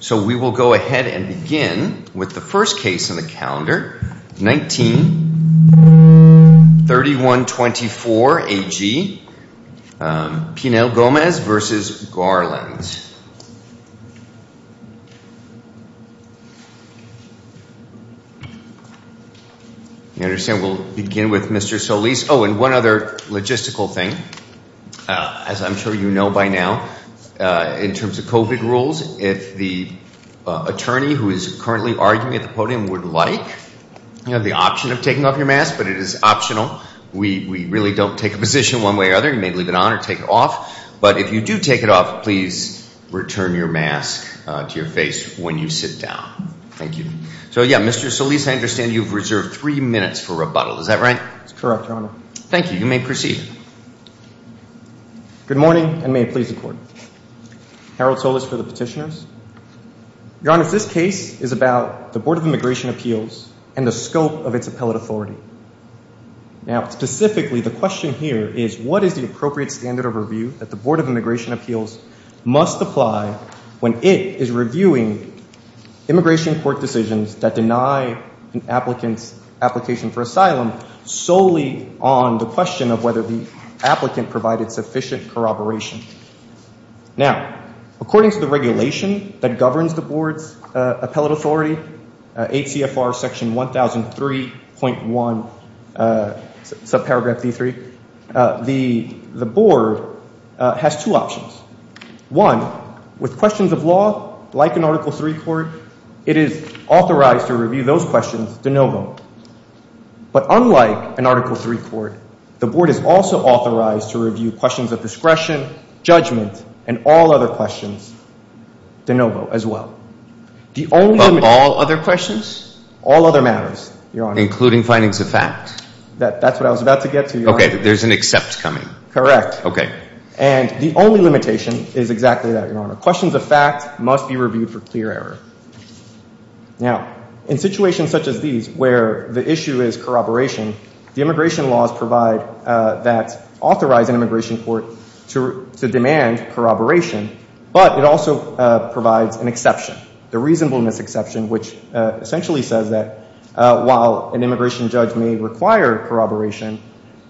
So we will go ahead and begin with the first case in the calendar 19-3124 AG Pinel-Gomez v. Garland. You understand we'll begin with Mr. Solis. Oh and one other logistical thing as I'm sure you know by now in terms of COVID rules if the attorney who is currently arguing at the podium would like you know the option of taking off your mask but it is optional we we really don't take a position one way or other you may leave it on or take it off but if you do take it off please return your mask to your face when you sit down. Thank you. So yeah Mr. Solis I understand you've reserved three minutes for rebuttal is that right? That's correct your honor. Thank you you may proceed. Good morning and may it please the court. Harold Solis for the petitioners. Your honor this case is about the Board of Immigration Appeals and the scope of its appellate authority. Now specifically the question here is what is the appropriate standard of review that the Board of Immigration Appeals must apply when it is reviewing immigration court decisions that deny an applicant's application for solely on the question of whether the applicant provided sufficient corroboration. Now according to the regulation that governs the board's appellate authority ACFR section 1003.1 subparagraph d3 the the board has two options. One with questions of law like an article 3 court it is authorized to review questions of discretion judgment and all other questions de novo as well. All other questions? All other matters your honor. Including findings of fact? That that's what I was about to get to. Okay there's an except coming. Correct. Okay and the only limitation is exactly that your honor. Questions of fact must be reviewed for clear error. Now in situations such as these where the issue is corroboration the immigration laws provide that authorize an immigration court to demand corroboration but it also provides an exception. The reasonableness exception which essentially says that while an immigration judge may require corroboration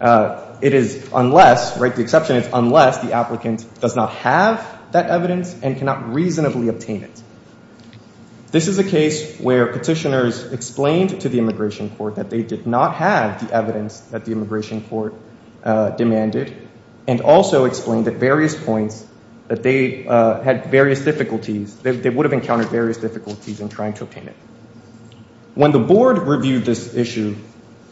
it is unless right the exception is unless the applicant does not have that evidence and cannot reasonably obtain it. This is a case where petitioners explained to the did not have the evidence that the immigration court demanded and also explained at various points that they had various difficulties that they would have encountered various difficulties in trying to obtain it. When the board reviewed this issue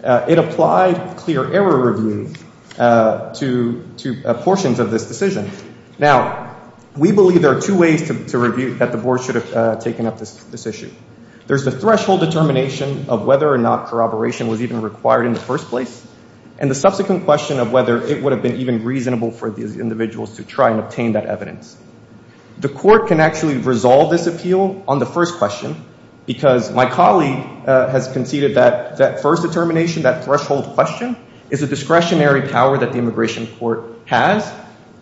it applied clear error review to two portions of this decision. Now we believe there are two ways to review that the board should have taken up this issue. There's the threshold determination of whether or not corroboration was even required in the first place and the subsequent question of whether it would have been even reasonable for these individuals to try and obtain that evidence. The court can actually resolve this appeal on the first question because my colleague has conceded that that first determination that threshold question is a discretionary power that the immigration court has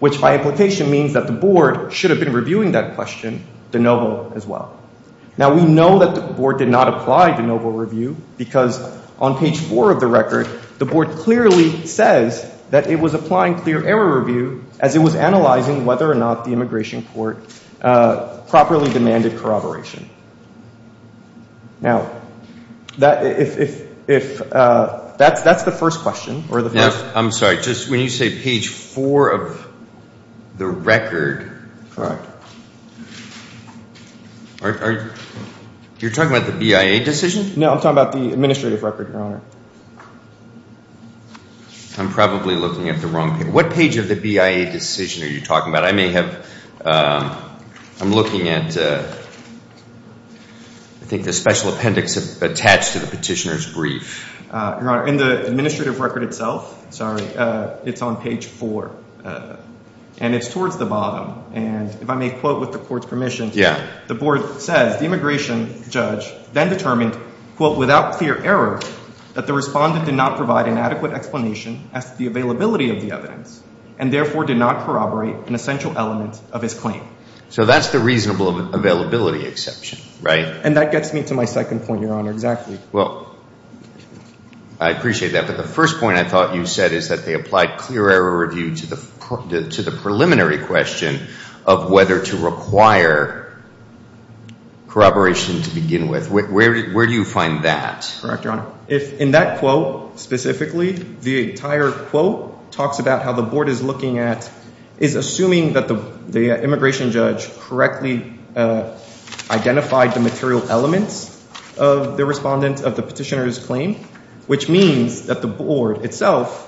which by implication means that the board should have been reviewing that question de novo as well. Now we know that the board did not apply de novo review because on page four of the record the board clearly says that it was applying clear error review as it was analyzing whether or not the immigration court properly demanded corroboration. Now that if that's that's the first question. I'm sorry just when you say page four of the administrative record your honor. I'm probably looking at the wrong page. What page of the BIA decision are you talking about? I may have I'm looking at I think the special appendix attached to the petitioner's brief. Your honor in the administrative record itself sorry it's on page four and it's towards the bottom and if I may quote with the court's permission. Yeah. The board says the without clear error that the respondent did not provide an adequate explanation as to the availability of the evidence and therefore did not corroborate an essential element of his claim. So that's the reasonable availability exception right? And that gets me to my second point your honor exactly. Well I appreciate that but the first point I thought you said is that they applied clear error review to the to the preliminary question of whether to find that. Correct your honor. If in that quote specifically the entire quote talks about how the board is looking at is assuming that the the immigration judge correctly identified the material elements of the respondent of the petitioner's claim which means that the board itself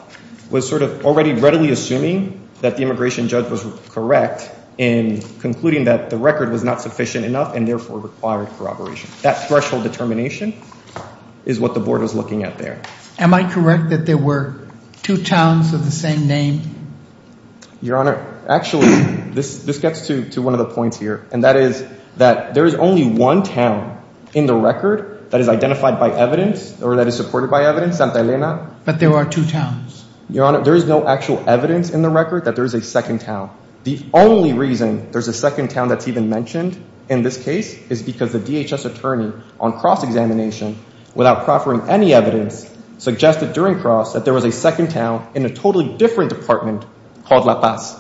was sort of already readily assuming that the immigration judge was correct in concluding that the record was not sufficient enough and therefore required corroboration. That threshold determination is what the board was looking at there. Am I correct that there were two towns of the same name? Your honor actually this this gets to to one of the points here and that is that there is only one town in the record that is identified by evidence or that is supported by evidence Santa Elena. But there are two towns. Your honor there is no actual evidence in the record that there is a second town. The only reason there's a second town that's even mentioned in this case is because the DHS attorney on cross-examination without proffering any evidence suggested during cross that there was a second town in a totally different department called La Paz.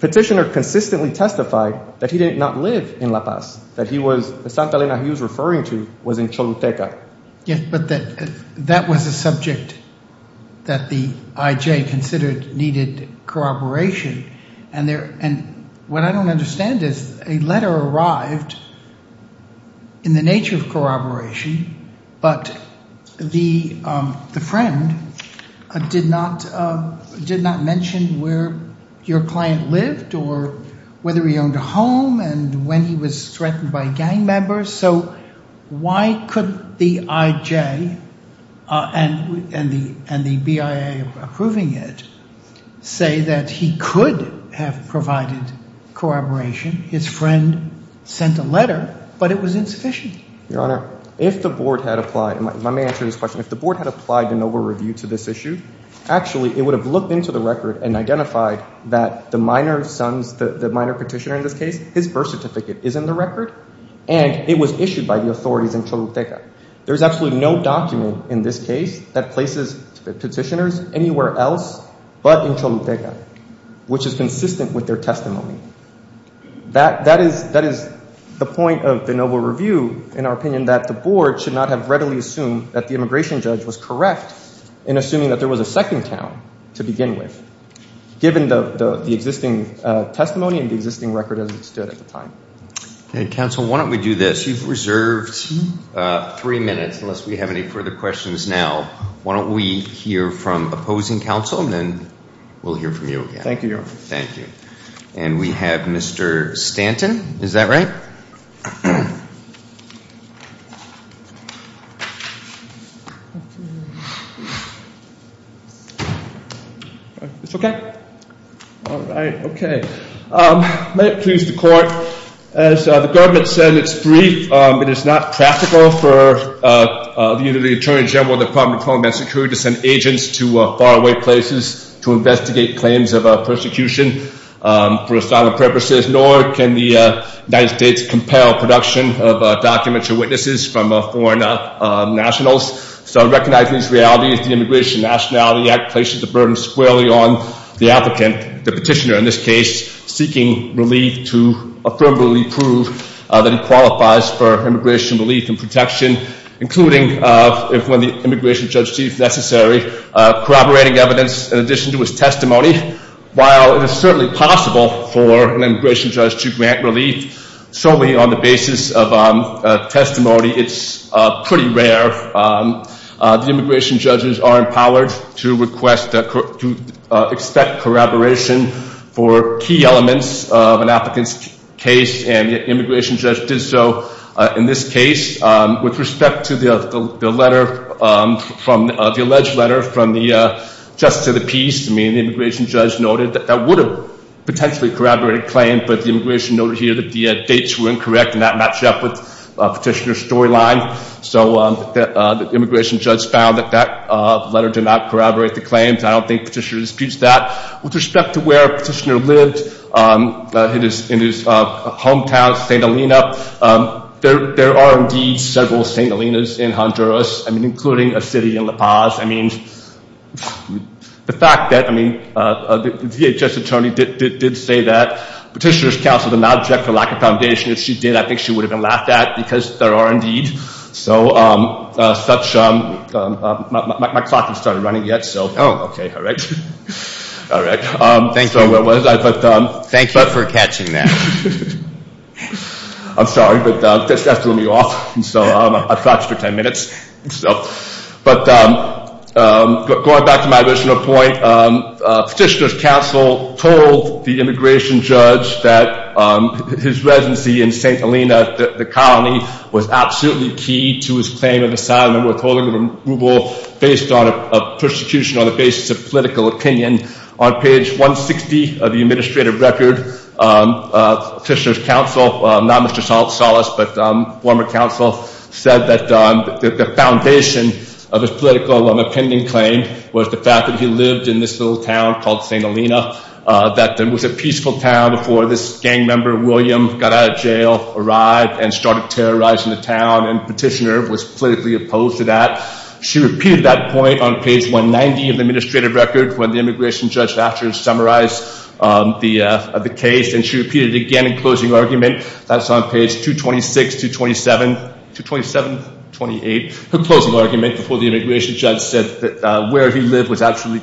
Petitioner consistently testified that he did not live in La Paz that he was Santa Elena he was referring to was in Choluteca. Yes but that that was a subject that the IJ considered needed corroboration and there and what I don't understand is a letter arrived in the nature of corroboration but the the friend did not did not mention where your client lived or whether he owned a home and when he was threatened by gang members so why couldn't the IJ and and the and the BIA approving it say that he could have provided corroboration his friend sent a letter but it was insufficient. Your honor if the board had applied and let me answer this question if the board had applied to NOVA review to this issue actually it would have looked into the record and identified that the minor sons the minor petitioner in this case his birth certificate is in the record and it was issued by the authorities in Choluteca. There's absolutely no document in this case that places petitioners anywhere else but in Choluteca which is consistent with their testimony. That that is that is the point of the NOVA review in our opinion that the board should not have readily assumed that the immigration judge was correct in assuming that there was a second town to begin with given the existing testimony and the existing record as it stood at the time. Okay counsel why don't we do this you've reserved three minutes unless we have any further questions now why don't we hear from opposing counsel and then we'll hear from you. Thank you. Thank you and we have Mr. Stanton is that right? It's okay? All right okay may it please the court as the government said it's brief it is not practical for the Attorney General of the Department of Homeland Security to send agents to faraway places to investigate claims of production of documentary witnesses from foreign nationals so I recognize these realities the Immigration Nationality Act places the burden squarely on the applicant the petitioner in this case seeking relief to affirmably prove that he qualifies for immigration relief and protection including if when the immigration judge chief necessary corroborating evidence in addition to his testimony while it is certainly possible for an immigration judge to grant relief solely on the basis of testimony it's pretty rare the immigration judges are empowered to request to expect corroboration for key elements of an applicant's case and the immigration judge did so in this case with respect to the letter from the alleged letter from the Justice of the Peace I mean the immigration judge noted that that would have potentially corroborated claim but the immigration over here that the dates were incorrect and that matched up with petitioner storyline so that the immigration judge found that that letter did not corroborate the claims I don't think petitioner disputes that with respect to where petitioner lived it is in his hometown St. Helena there are indeed several St. Helena's in Honduras I mean including a city in La Paz I mean the fact that I mean the VHS attorney did did say that petitioners counseled an object for lack of foundation if she did I think she would have been laughed at because there are indeed so such my clock has started running yet so oh okay all right all right thanks for what was I but thank you for catching that I'm sorry but that threw me off and so I've got you for 10 minutes so but going back to my point petitioner's counsel told the immigration judge that his residency in St. Helena the colony was absolutely key to his claim of asylum and withholding removal based on a persecution on the basis of political opinion on page 160 of the administrative record petitioner's counsel not Mr. Salas but former counsel said that the foundation of his political opinion claim was the fact that he lived in this little town called St. Helena that there was a peaceful town before this gang member William got out of jail arrived and started terrorizing the town and petitioner was politically opposed to that she repeated that point on page 190 of the administrative record when the immigration judge factors summarize the case and she repeated again in closing argument that's on page 226 227 227 28 the closing argument before the absolutely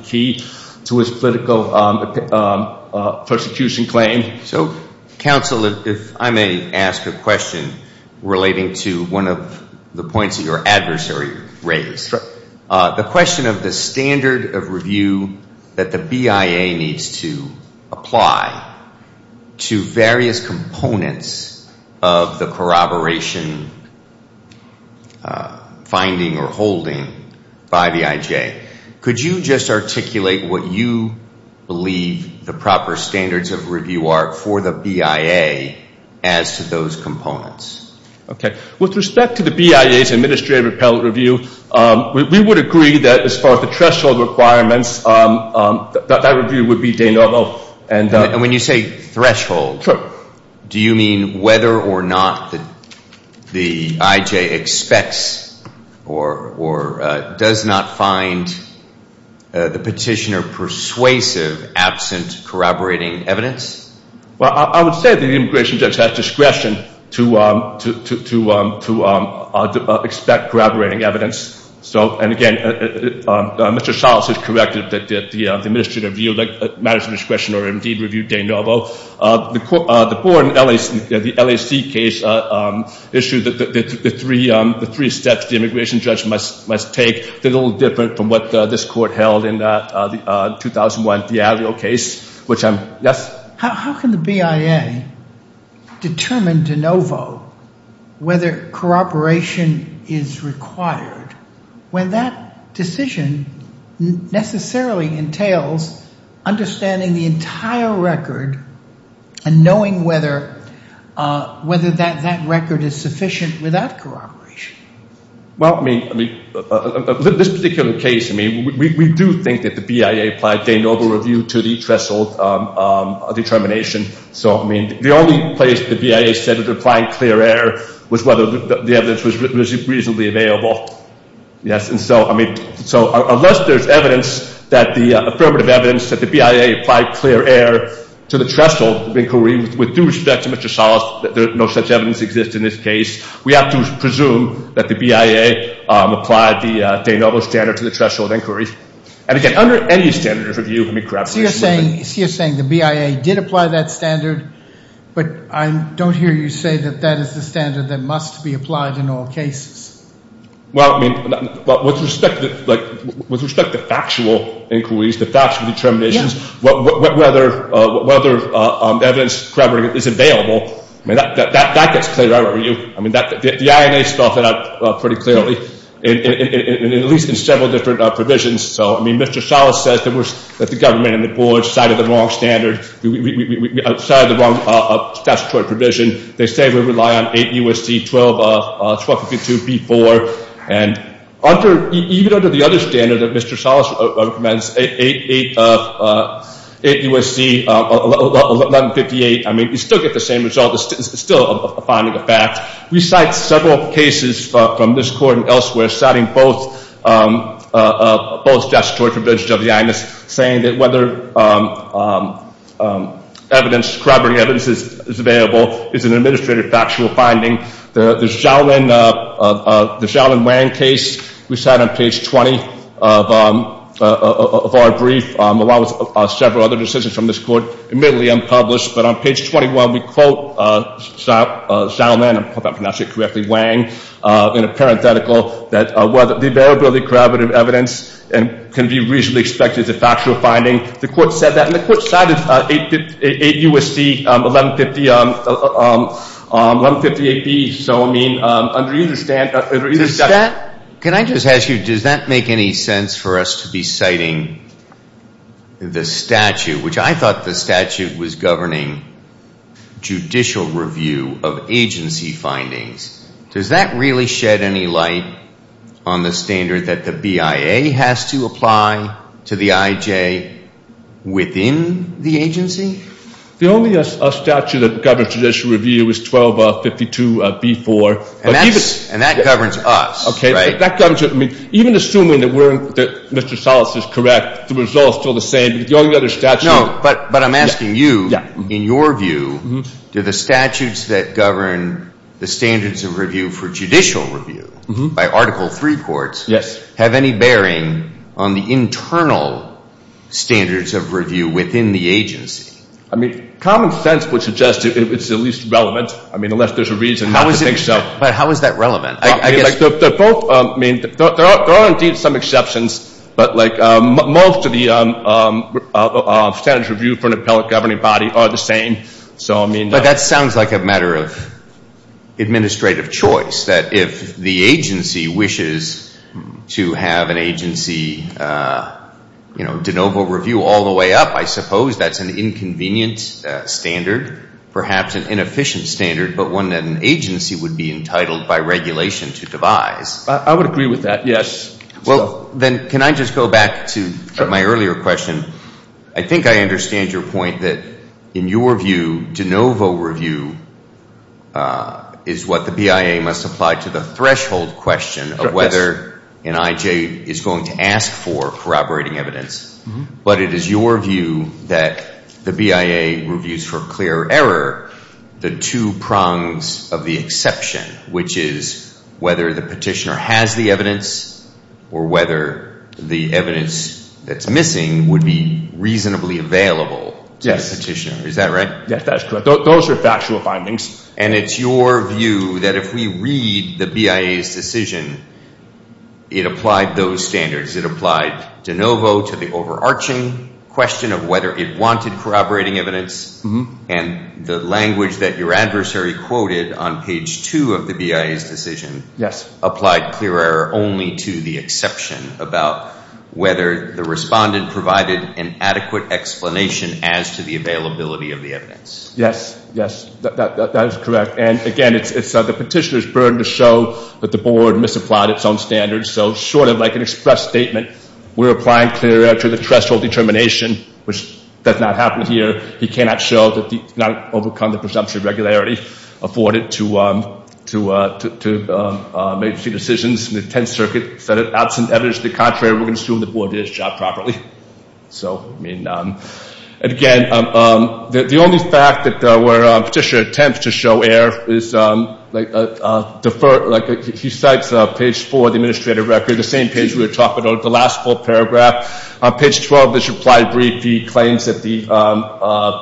key to his political persecution claim so counsel if I may ask a question relating to one of the points of your adversary raised the question of the standard of review that the BIA needs to apply to various articulate what you believe the proper standards of review are for the BIA as to those components okay with respect to the BIA's administrative appellate review we would agree that as far as the threshold requirements that review would be Dana and when you say threshold do you mean whether or not that the IJ expects or or does not find the petitioner persuasive absent corroborating evidence well I would say the immigration judge has discretion to to to to to expect corroborating evidence so and again mr. sauce is corrected that the administrative view like matters of discretion or indeed the LAC case issue that the three the three steps the immigration judge must must take they're a little different from what this court held in the 2001 Diablo case which I'm yes how can the BIA determine de novo whether corroboration is required when that decision necessarily entails understanding the entire record and knowing whether whether that that record is sufficient without corroboration well I mean this particular case I mean we do think that the BIA applied de novo review to the threshold determination so I mean the only place the BIA said it applied clear air was whether the evidence was reasonably available yes and so I mean so unless there's evidence that the BIA applied clear air to the threshold of inquiry with due respect to mr. sauce that there's no such evidence exist in this case we have to presume that the BIA applied the de novo standard to the threshold inquiry and again under any standards review let me grab you're saying you're saying the BIA did apply that standard but I don't hear you say that that is the standard that must be applied in all cases well I mean but with respect to like with respect to determinations what whether whether evidence is available I mean that gets clear over you I mean that the INA stuff it up pretty clearly and at least in several different provisions so I mean mr. solace says there was that the government and the board cited the wrong standard we decided the wrong statutory provision they say we rely on a USC 12 of 1252 before and under even under the other standard that mr. solace recommends 8 8 of 8 USC 1158 I mean you still get the same result it's still a finding of fact we cite several cases from this court and elsewhere citing both both statutory provisions of the INS saying that whether evidence corroborating evidence is available is an administrative factual finding there's Shaolin the Shaolin Wang case we sat on page 20 of our brief allows us several other decisions from this court admittedly unpublished but on page 21 we quote Shaolin I'm not correctly Wang in a parenthetical that whether the variability corroborative evidence and can be reasonably expected as a factual finding the court said that the court cited 8 8 USC 1150 1158 B so I mean under either stand is that can I just ask you does that make any sense for us to be citing the statute which I thought the statute was governing judicial review of agency findings does that really shed any light on the standard that the BIA has to apply to the IJ within the agency the only us a statute that governs judicial review is 12 of 52 before and that's and that governs us okay that comes with me even assuming that weren't that mr. solace is correct the result still the same going the other step no but but I'm asking you in your view do the statutes that govern the standards of review for judicial review by article 3 courts yes have any bearing on the internal standards of review within the agency I mean common sense would suggest it was at least relevant I mean unless there's a reason how is it so but how is that relevant I mean there are indeed some exceptions but like most of the standards review for an appellate governing body are the same so I mean but that sounds like a matter of administrative choice that if the agency wishes to have an agency you know de novo review all the way up I suppose that's an inconvenient standard perhaps an inefficient standard but when an agency would be entitled by regulation to devise I would agree with that yes well then can I just go back to my earlier question I think I understand your point that in your view de novo review is what the BIA must apply to the threshold question of whether an IJ is going to ask for corroborating evidence but it is your view that the BIA reviews for clear error the two prongs of the exception which is whether the petitioner has the evidence or whether the evidence that's missing would be reasonably available yes petitioner is that right yes that's correct those are factual findings and it's your view that if we read the BIA's decision it applied those standards it applied de novo to the overarching question of whether it wanted corroborating evidence and the language that your adversary quoted on page two of the BIA's decision yes applied clear error only to the exception about whether the respondent provided an adequate explanation as to availability of the evidence yes yes that is correct and again it's the petitioner's burden to show that the board misapplied its own standards so sort of like an express statement we're applying clear error to the threshold determination which does not happen here he cannot show that the not overcome the presumption of regularity afforded to to make few decisions in the 10th circuit set it out some evidence the contrary we're gonna assume the board did his job properly so I mean and again the only fact that there were petitioner attempts to show air is deferred like he cites a page for the administrative record the same page we were talking about the last full paragraph page 12 this reply brief he claims that the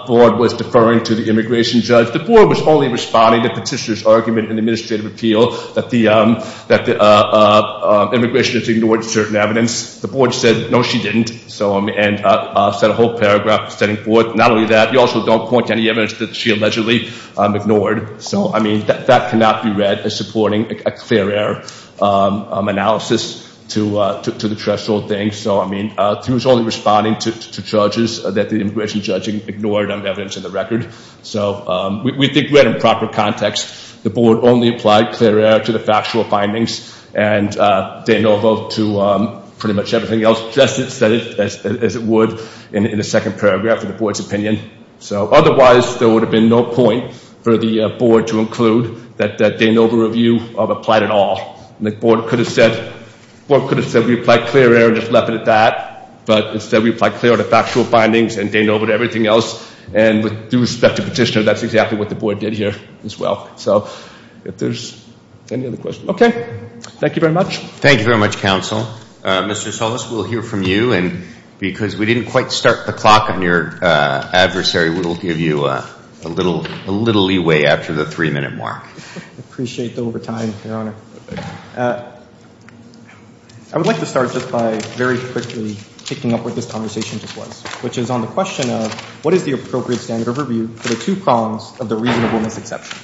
board was deferring to the immigration judge the board was only responding to petitioners argument in administrative appeal that the that the immigration is ignored certain evidence the board said no she didn't so I mean and I said a whole paragraph setting forth not only that you also don't point any evidence that she allegedly ignored so I mean that cannot be read as supporting a clear error analysis to to the threshold thing so I mean who's only responding to charges that the immigration judging ignored on evidence in the record so we think we're in proper context the board only applied clear error to the factual findings and they know vote to pretty much everything else just as it would in the second paragraph of the board's opinion so otherwise there would have been no point for the board to include that that they know the review of applied at all the board could have said what could have said we applied clear error just left it at that but instead we apply clear to factual findings and they know about everything else and with due respect to petitioner that's exactly what the board did here as well so if there's any other question okay thank you very much thank you very much counsel mr. Solis we'll hear from you and because we didn't quite start the clock on your adversary we will give you a little a little leeway after the three-minute mark appreciate the overtime your honor I would like to start just by very quickly picking up what this conversation just was which is on the question of what is the appropriate standard of review for the two prongs of the reasonableness exception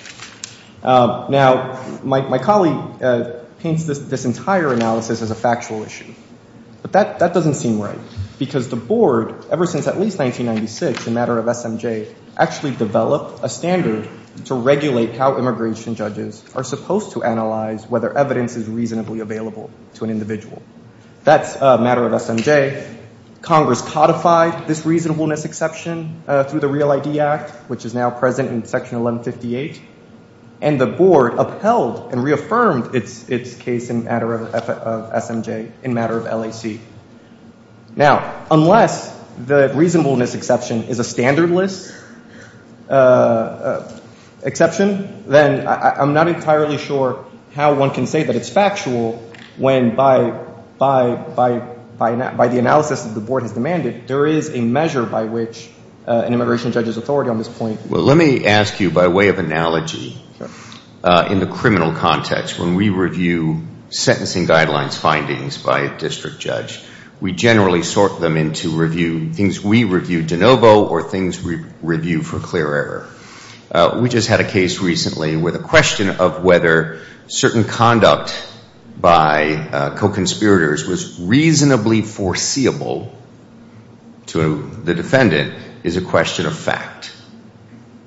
now my colleague paints this this entire analysis as a factual issue but that that doesn't seem right because the board ever since at least 1996 the matter of SMJ actually developed a standard to regulate how immigration judges are supposed to analyze whether evidence is reasonably available to an individual that's a matter of SMJ Congress codified this reasonableness exception through the real ID Act which is now present in section 1158 and the reaffirmed its its case in matter of SMJ in matter of LAC now unless the reasonableness exception is a standardless exception then I'm not entirely sure how one can say that it's factual when by by by by not by the analysis of the board has demanded there is a measure by which an immigration judge's authority on this point well let me ask you by way of analogy in the context when we review sentencing guidelines findings by a district judge we generally sort them into review things we review de novo or things we review for clear error we just had a case recently with a question of whether certain conduct by co-conspirators was reasonably foreseeable to the defendant is a question of fact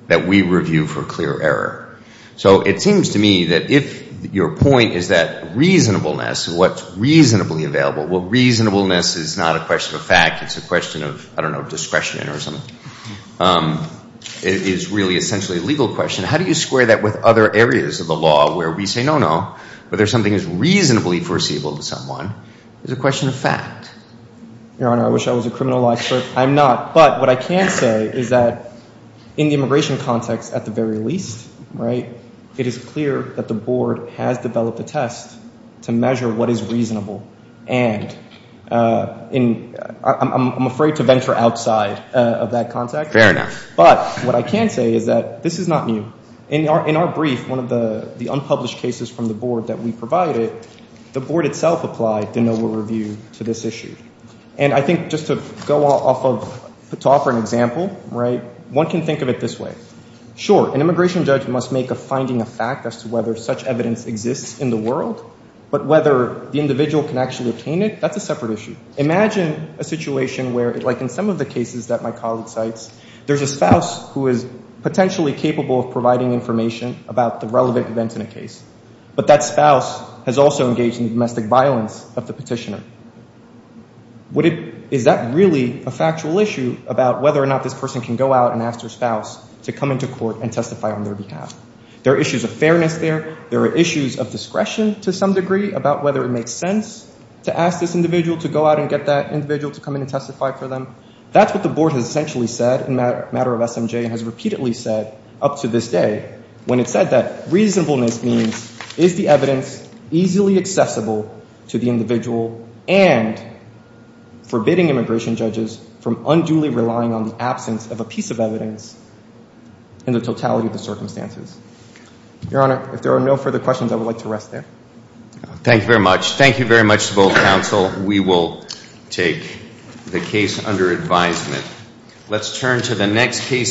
that we review for clear error so it seems to me that if your point is that reasonableness what's reasonably available what reasonableness is not a question of fact it's a question of I don't know discretion or something it is really essentially a legal question how do you square that with other areas of the law where we say no no but there's something is reasonably foreseeable to someone is a question of fact your honor I wish I was a criminal expert I'm not but what I can say is that in the immigration context at the very least right it is clear that the board has developed a test to measure what is reasonable and in I'm afraid to venture outside of that context fair enough but what I can say is that this is not new in our in our brief one of the the unpublished cases from the board that we provided the board itself applied to know we'll review to this issue and I think just to offer an example right one can think of it this way sure an immigration judge must make a finding a fact as to whether such evidence exists in the world but whether the individual can actually obtain it that's a separate issue imagine a situation where it like in some of the cases that my colleague cites there's a spouse who is potentially capable of providing information about the relevant events in a case but that spouse has also engaged in domestic violence of the petitioner what is that really a factual issue about whether or not this person can go out and ask their spouse to come into court and testify on their behalf there are issues of fairness there there are issues of discretion to some degree about whether it makes sense to ask this individual to go out and get that individual to come in and testify for them that's what the board has essentially said in that matter of SMJ has repeatedly said up to this day when it said that reasonableness means is the to the individual and forbidding immigration judges from unduly relying on the absence of a piece of evidence in the totality of the circumstances your honor if there are no further questions I would like to rest there thank you very much thank you very much to both counsel we will take the case under advisement let's turn to the next case